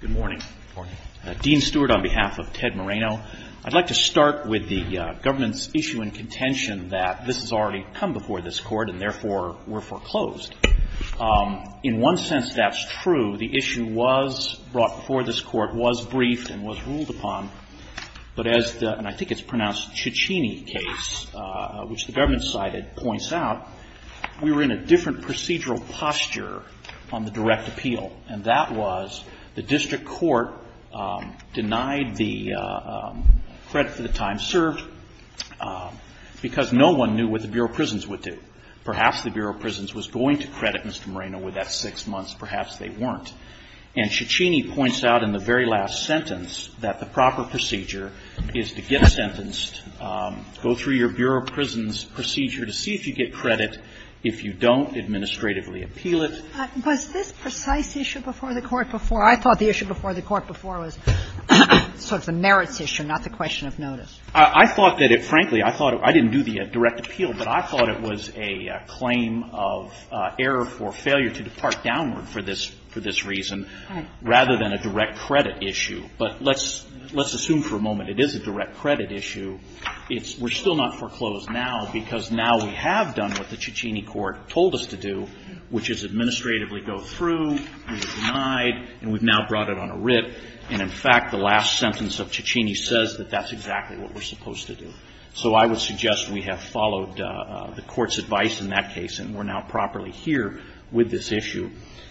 Good morning. Dean Stewart on behalf of Ted Moreno. I'd like to start with the government's issue in contention that this has already come before this Court and therefore were foreclosed. In one sense that's true. The issue was brought before this Court, was briefed and was ruled upon, but as the, and I think it's pronounced, Ciccini case, which the government cited, points out, we were in a different procedural posture on the direct appeal. And that was the district court denied the credit for the time served because no one knew what the Bureau of Prisons would do. Perhaps the Bureau of Prisons was going to credit Mr. Moreno with that six months. Perhaps they weren't. And Ciccini points out in the very last sentence that the proper procedure is to get sentenced, go through your Bureau of Prisons procedure to see if you get credit. If you don't, administratively appeal it. Sotomayor Was this precise issue before the Court before? I thought the issue before the Court before was sort of the merits issue, not the question of notice. Moreno I thought that it, frankly, I thought it, I didn't do the direct appeal, but I thought it was a claim of error for failure to depart downward for this, for this reason rather than a direct credit issue. But let's, let's assume for a moment it is a direct credit issue. It's, we're still not foreclosed now because now we have done what the Ciccini court told us to do, which is administratively go through, we've denied, and we've now brought it on a rip. And in fact, the last sentence of Ciccini says that that's exactly what we're supposed to do. So I would suggest we have followed the Court's advice in that case, and we're now properly here with this issue.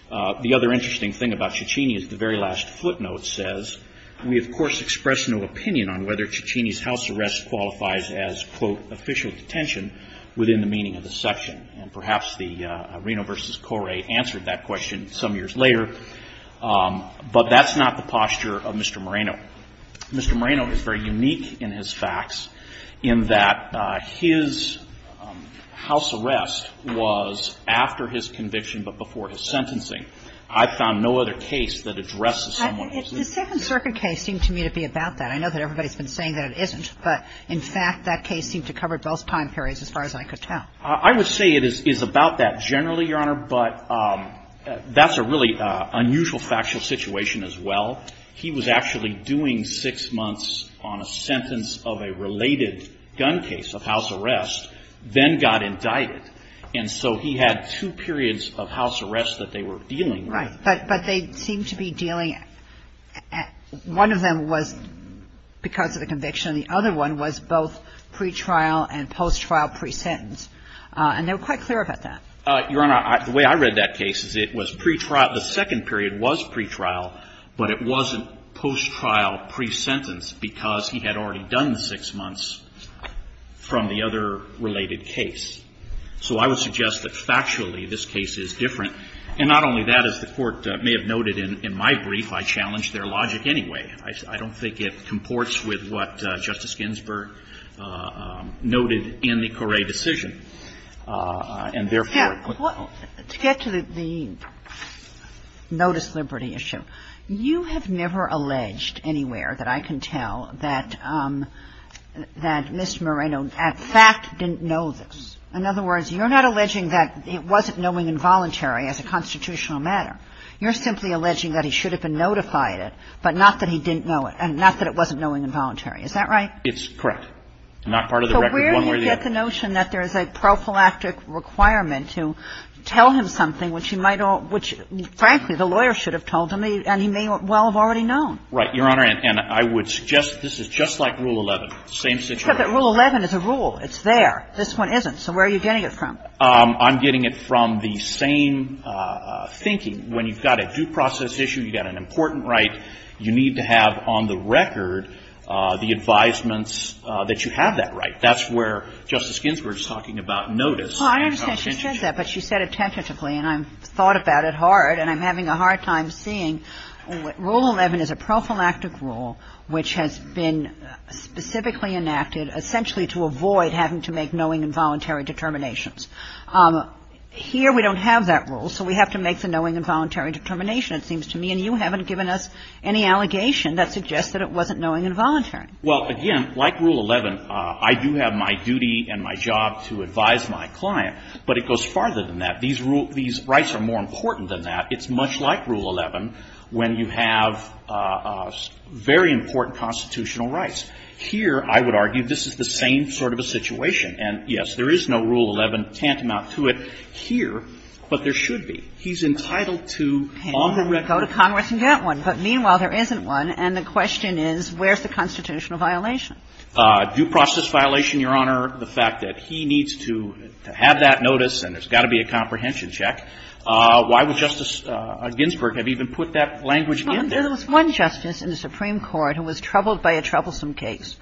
The other interesting thing about Ciccini is the very last footnote says, we, of course, express no opinion on whether Ciccini's house arrest qualifies as, quote, official detention within the meaning of the section. And perhaps the Reno v. Coray answered that question some years later. But that's not the posture of Mr. Moreno. Mr. Moreno is very unique in his facts in that his house arrest was after his conviction but before his sentencing. I've found no other case that addresses someone as this. The Second Circuit case seemed to me to be about that. I know that everybody's been saying that it isn't. But in fact, that case seemed to cover both time periods as far as I could tell. I would say it is about that generally, Your Honor, but that's a really unusual factual situation as well. He was actually doing six months on a sentence of a related gun case of house arrest, then got indicted. And so he had two periods of house arrest that they were dealing with. Right. But they seemed to be dealing at one of them was because of the conviction and the other one was both pre-trial and post-trial pre-sentence. And they were quite clear about that. Your Honor, the way I read that case is it was pre-trial. The second period was pre-trial, but it wasn't post-trial pre-sentence because he had already done six months from the other related case. So I would suggest that factually this case is different. And not only that, as the Court may have noted in my brief, I challenge their logic anyway. I don't think it comports with what Justice Ginsburg noted in the Coray decision. And therefore ---- Kagan. To get to the notice liberty issue, you have never alleged anywhere that I can tell that Mr. Moreno in fact didn't know this. In other words, you're not alleging that it wasn't knowing involuntary as a constitutional matter. You're simply alleging that he should have been notified it, but not that he didn't know it and not that it wasn't knowing involuntary. Is that right? It's correct. Not part of the record one way or the other. So where do you get the notion that there is a prophylactic requirement to tell him something which he might all ---- which, frankly, the lawyer should have told him and he may well have already known? Right, Your Honor. And I would suggest this is just like Rule 11, same situation. But Rule 11 is a rule. It's there. This one isn't. So where are you getting it from? I'm getting it from the same thinking. When you've got a due process issue, you've got an important right, you need to have on the record the advisements that you have that right. That's where Justice Ginsburg is talking about notice. Well, I understand she said that, but she said it tentatively, and I've thought about it hard, and I'm having a hard time seeing. Rule 11 is a prophylactic rule which has been specifically enacted essentially to avoid having to make knowing involuntary determinations. Here we don't have that rule, so we have to make the knowing involuntary determination, it seems to me. And you haven't given us any allegation that suggests that it wasn't knowing involuntary. Well, again, like Rule 11, I do have my duty and my job to advise my client, but it goes farther than that. These rights are more important than that. It's much like Rule 11 when you have very important constitutional rights. Here, I would argue, this is the same sort of a situation. And, yes, there is no Rule 11 tantamount to it here, but there should be. He's entitled to on the record. You can go to Congress and get one, but meanwhile, there isn't one, and the question is, where's the constitutional violation? Due process violation, Your Honor, the fact that he needs to have that notice, and there's got to be a comprehension check. Why would Justice Ginsburg have even put that language in there? Well, there was one justice in the Supreme Court who was troubled by a troublesome case.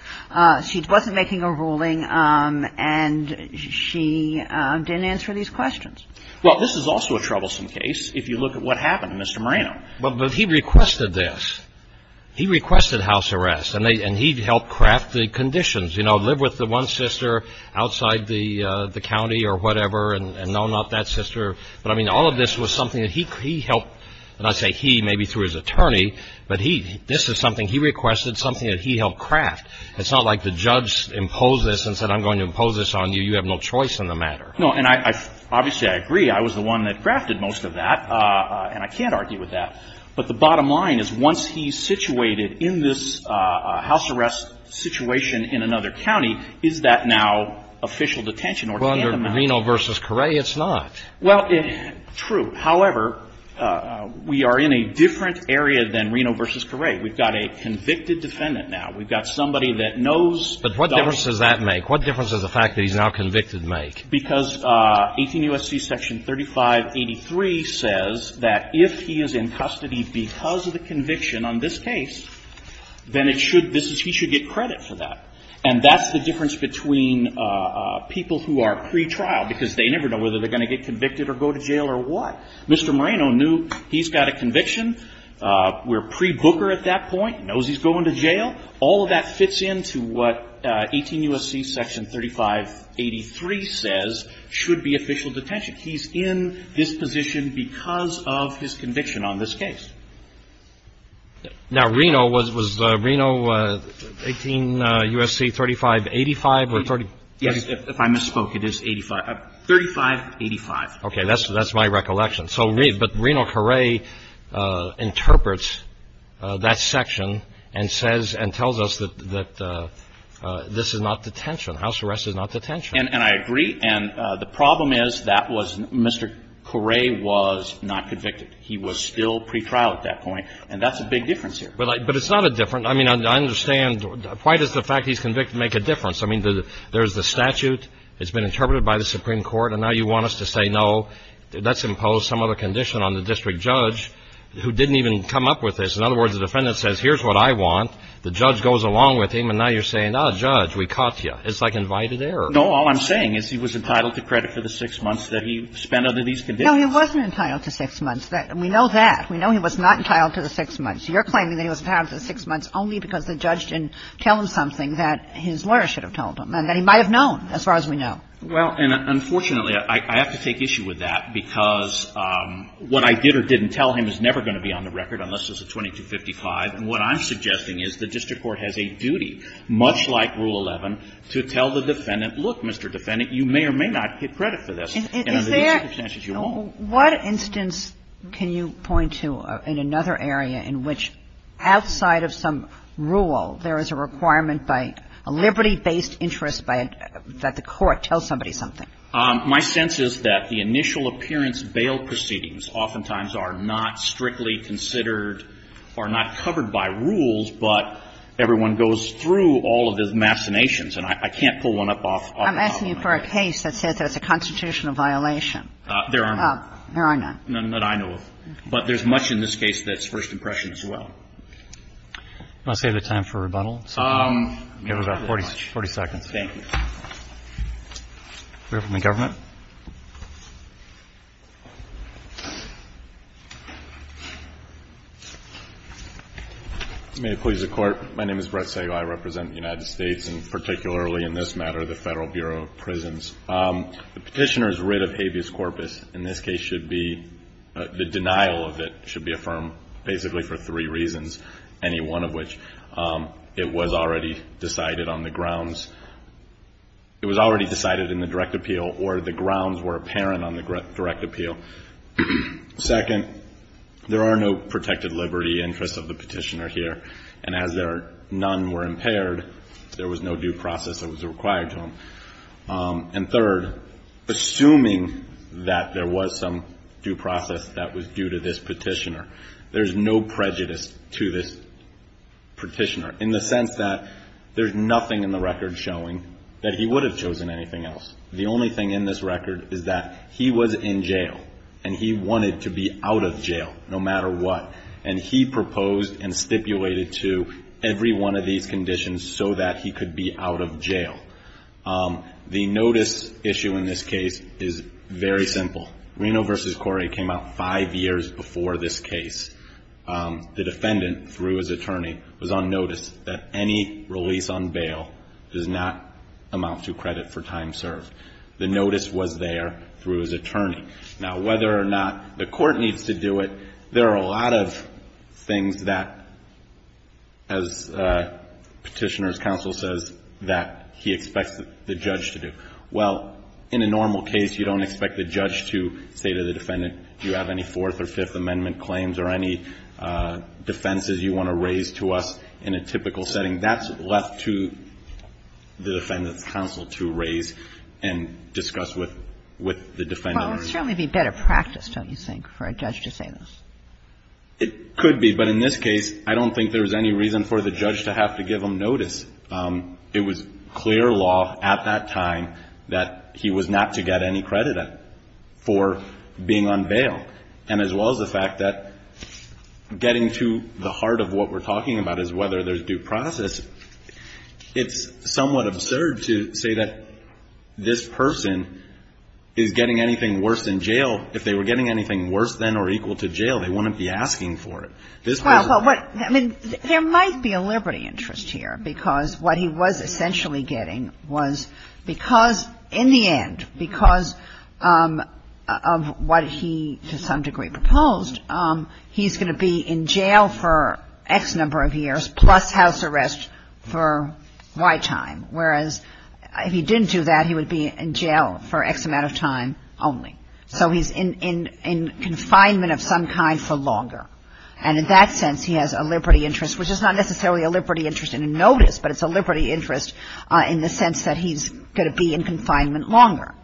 She wasn't making a ruling, and she didn't answer these questions. Well, this is also a troublesome case if you look at what happened to Mr. Moreno. But he requested this. He requested house arrest, and he helped craft the conditions. You know, live with the one sister outside the county or whatever, and no, not that sister. But, I mean, all of this was something that he helped, and I say he, maybe through his attorney, but he, this is something he requested, something that he helped craft. It's not like the judge imposed this and said, I'm going to impose this on you. You have no choice in the matter. No, and I, obviously, I agree. I was the one that crafted most of that, and I can't argue with that. But the bottom line is, once he's situated in this house arrest situation in another county, is that now official detention or tandem arrest? Well, under Reno v. Correa, it's not. Well, true. However, we are in a different area than Reno v. Correa. We've got a convicted defendant now. We've got somebody that knows. But what difference does that make? What difference does the fact that he's now convicted make? Because 18 U.S.C. section 3583 says that if he is in custody because of the conviction on this case, then it should, this is, he should get credit for that. And that's the difference between people who are pretrial, because they never know whether they're going to get convicted or go to jail or what. Mr. Moreno knew he's got a conviction. We're pre-Booker at that point, knows he's going to jail. All of that fits into what 18 U.S.C. section 3583 says should be official detention. He's in this position because of his conviction on this case. Now, Reno, was Reno 18 U.S.C. 3585 or 30? Yes, if I misspoke, it is 85, 3585. OK, that's that's my recollection. So, but Reno Correa interprets that section and says and tells us that this is not detention. House arrest is not detention. And I agree. And the problem is that was Mr. Correa was not convicted. He was still pretrial at that point. And that's a big difference here. But it's not a different. I mean, I understand. Why does the fact he's convicted make a difference? I mean, there's the statute. It's been interpreted by the Supreme Court. And now you want us to say, no, that's imposed. Some other condition on the district judge who didn't even come up with this. In other words, the defendant says, here's what I want. The judge goes along with him. And now you're saying, oh, judge, we caught you. It's like invited error. No, all I'm saying is he was entitled to credit for the six months that he spent under these conditions. He wasn't entitled to six months. We know that. We know he was not entitled to the six months. You're claiming that he was entitled to six months only because the judge didn't tell him something that his lawyer should have told him and that he might have known as far as we know. Well, and unfortunately, I have to take issue with that, because what I did or didn't tell him is never going to be on the record unless it's a 2255. And what I'm suggesting is the district court has a duty, much like Rule 11, to tell the defendant, look, Mr. Defendant, you may or may not get credit for this. And under these circumstances, you won't. What instance can you point to in another area in which, outside of some rule, there is a requirement by a liberty-based interest that the court tell somebody something? My sense is that the initial appearance bail proceedings oftentimes are not strictly considered or not covered by rules, but everyone goes through all of the machinations. And I can't pull one up off the top of my head. I'm asking you for a case that says there's a constitutional violation. There are none. There are none. None that I know of. But there's much in this case that's first impression as well. I'm going to save the time for rebuttal. You have about 40 seconds. Thank you. We have one from the government. May it please the Court. My name is Brett Sago. I represent the United States, and particularly in this matter, the Federal Bureau of Prisons. The petitioner's writ of habeas corpus in this case should be the denial of it should be one of which it was already decided on the grounds it was already decided in the direct appeal or the grounds were apparent on the direct appeal. Second, there are no protected liberty interests of the petitioner here. And as there are none were impaired, there was no due process that was required to him. And third, assuming that there was some due process that was due to this petitioner, there's no prejudice to this petitioner in the sense that there's nothing in the record showing that he would have chosen anything else. The only thing in this record is that he was in jail and he wanted to be out of jail no matter what. And he proposed and stipulated to every one of these conditions so that he could be out of jail. The notice issue in this case is very simple. Reno v. Corey came out five years before this case. The defendant, through his attorney, was on notice that any release on bail does not amount to credit for time served. The notice was there through his attorney. Now whether or not the court needs to do it, there are a lot of things that, as petitioner's counsel says, that he expects the judge to do. Well, in a normal case, you don't expect the judge to say to the defendant, do you have any Fourth or Fifth Amendment claims or any defenses you want to raise to us in a typical setting. That's left to the defendant's counsel to raise and discuss with the defendant. But it would certainly be better practice, don't you think, for a judge to say this? It could be. But in this case, I don't think there was any reason for the judge to have to give him notice. It was clear law at that time that he was not to get any credit for being on bail. And as well as the fact that getting to the heart of what we're talking about is whether there's due process. It's somewhat absurd to say that this person is getting anything worse than jail. If they were getting anything worse than or equal to jail, they wouldn't be asking for it. This person. Well, but what – I mean, there might be a liberty interest here, because what he was essentially getting was because in the end, because of what he to some degree proposed, he's going to be in jail for X number of years plus house arrest for Y time, whereas if he didn't do that, he would be in jail for X amount of time only. So he's in confinement of some kind for longer. And in that sense, he has a liberty interest, which is not necessarily a liberty interest in a notice, but it's a liberty interest in the sense that he's going to be in confinement longer.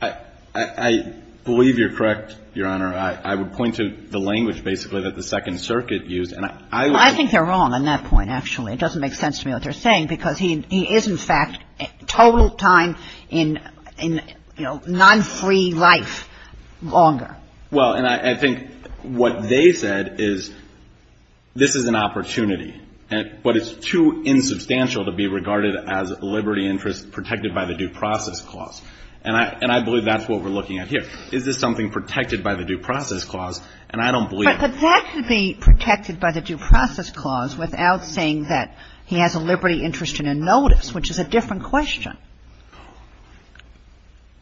I believe you're correct, Your Honor. I would point to the language basically that the Second Circuit used, and I would I think they're wrong on that point, actually. It doesn't make sense to me what they're saying, because he is, in fact, total time in, you know, non-free life longer. Well, and I think what they said is this is an opportunity, but it's too insubstantial to be regarded as liberty interest protected by the Due Process Clause. And I believe that's what we're looking at here. Is this something protected by the Due Process Clause? And I don't believe – But that could be protected by the Due Process Clause without saying that he has a liberty interest in a notice, which is a different question.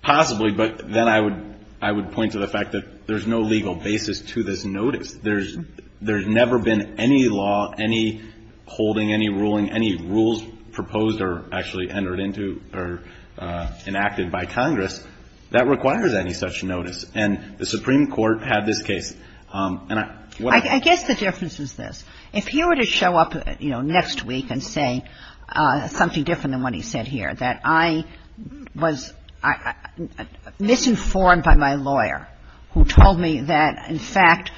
Possibly, but then I would point to the fact that there's no legal basis to this notice. There's never been any law, any holding, any ruling, any rules proposed or actually entered into or enacted by Congress that requires any such notice. And the Supreme Court had this case, and I – I guess the difference is this. If he were to show up, you know, next week and say something different than what he said here, that I was misinformed by my lawyer, who told me that, in fact,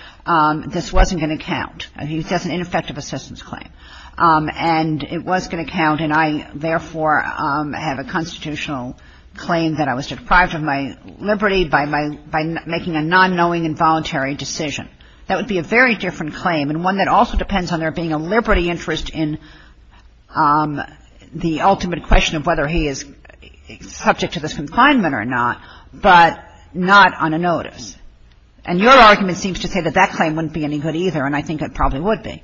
this wasn't going to count. He says an ineffective assistance claim. And it was going to count, and I, therefore, have a constitutional claim that I was deprived of my liberty by my – by making a non-knowing involuntary decision. That would be a very different claim and one that also depends on there being a liberty interest in the ultimate question of whether he is subject to this confinement or not, but not on a notice. And your argument seems to say that that claim wouldn't be any good either, and I think it probably would be.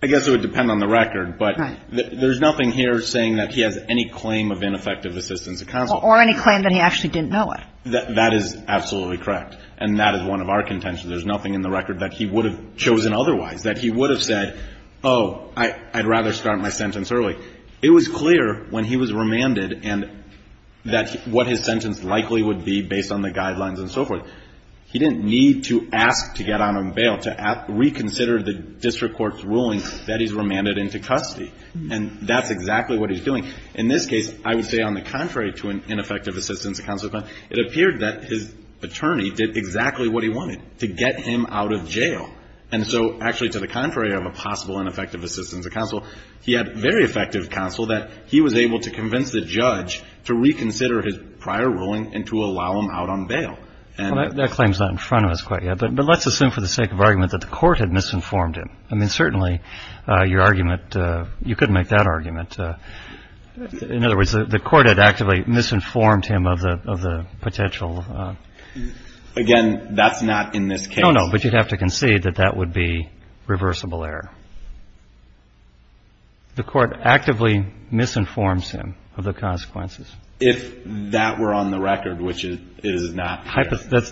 I guess it would depend on the record, but there's nothing here saying that he has any claim of ineffective assistance at counsel. Or any claim that he actually didn't know it. That is absolutely correct, and that is one of our contentions. There's nothing in the record that he would have chosen otherwise, that he would have said, oh, I'd rather start my sentence early. It was clear when he was remanded and that what his sentence likely would be based on the guidelines and so forth. He didn't need to ask to get out on bail to reconsider the district court's ruling that he's remanded into custody. And that's exactly what he's doing. In this case, I would say, on the contrary to an ineffective assistance at counsel claim, it appeared that his attorney did exactly what he wanted, to get him out of jail. And so, actually, to the contrary of a possible ineffective assistance at counsel, he had very effective counsel that he was able to convince the judge to reconsider his prior ruling and to allow him out on bail. And that claim's not in front of us quite yet, but let's assume for the sake of argument that the court had misinformed him. I mean, certainly, your argument, you could make that argument. But, in other words, the court had actively misinformed him of the potential. Again, that's not in this case. No, no, but you'd have to concede that that would be reversible error. The court actively misinforms him of the consequences. If that were on the record, which it is not.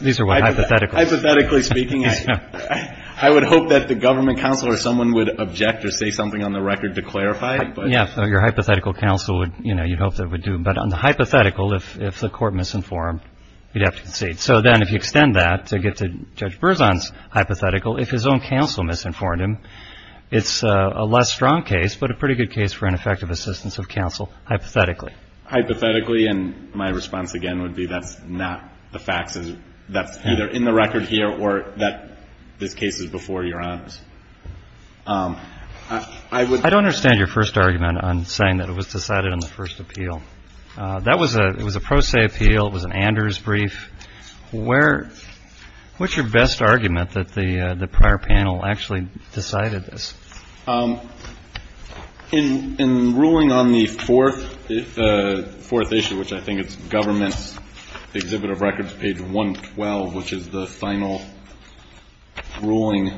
These are hypothetical. Hypothetically speaking, I would hope that the government counsel or someone would object or say something on the record to clarify it. Yeah, your hypothetical counsel would, you know, you'd hope that it would do. But on the hypothetical, if the court misinformed, you'd have to concede. So then, if you extend that to get to Judge Berzon's hypothetical, if his own counsel misinformed him, it's a less strong case, but a pretty good case for ineffective assistance of counsel, hypothetically. Hypothetically, and my response, again, would be that's not the facts. That's either in the record here or that this case is before your eyes. I would -- I don't understand your first argument on saying that it was decided on the first appeal. That was a pro se appeal. It was an Anders brief. Where -- what's your best argument that the prior panel actually decided this? In ruling on the fourth issue, which I think is government's Exhibit of Records, page 112, which is the final ruling,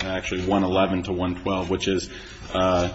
actually 111 to 112, which is the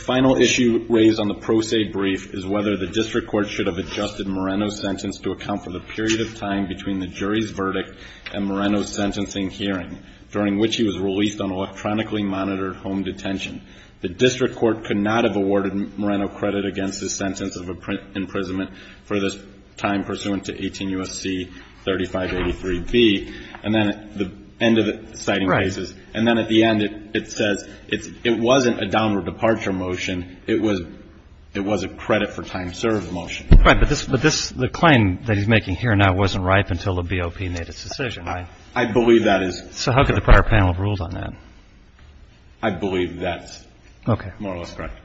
final issue raised on the pro se brief is whether the district court should have adjusted Moreno's sentence to account for the period of time between the jury's verdict and Moreno's sentencing hearing, during which he was released on electronically monitored home detention. The district court could not have awarded Moreno credit against his sentence of imprisonment for this time pursuant to 18 U.S.C. 3583B. And then at the end of the citing cases, and then at the end it says it wasn't a downward departure motion, it was a credit for time served motion. Right. But the claim that he's making here now wasn't ripe until the BOP made its decision, right? I believe that is correct. So how could the prior panel have ruled on that? I believe that's more or less correct.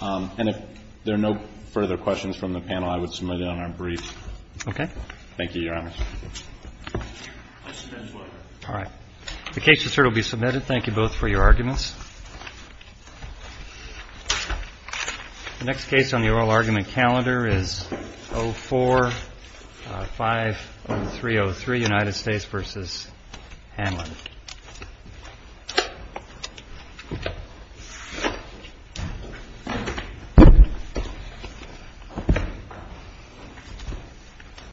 And if there are no further questions from the panel, I would submit it on our brief. Okay. Thank you, Your Honor. All right. The case is here to be submitted. Thank you both for your arguments. The next case on the oral argument calendar is 04-50303, United States versus Hanlon.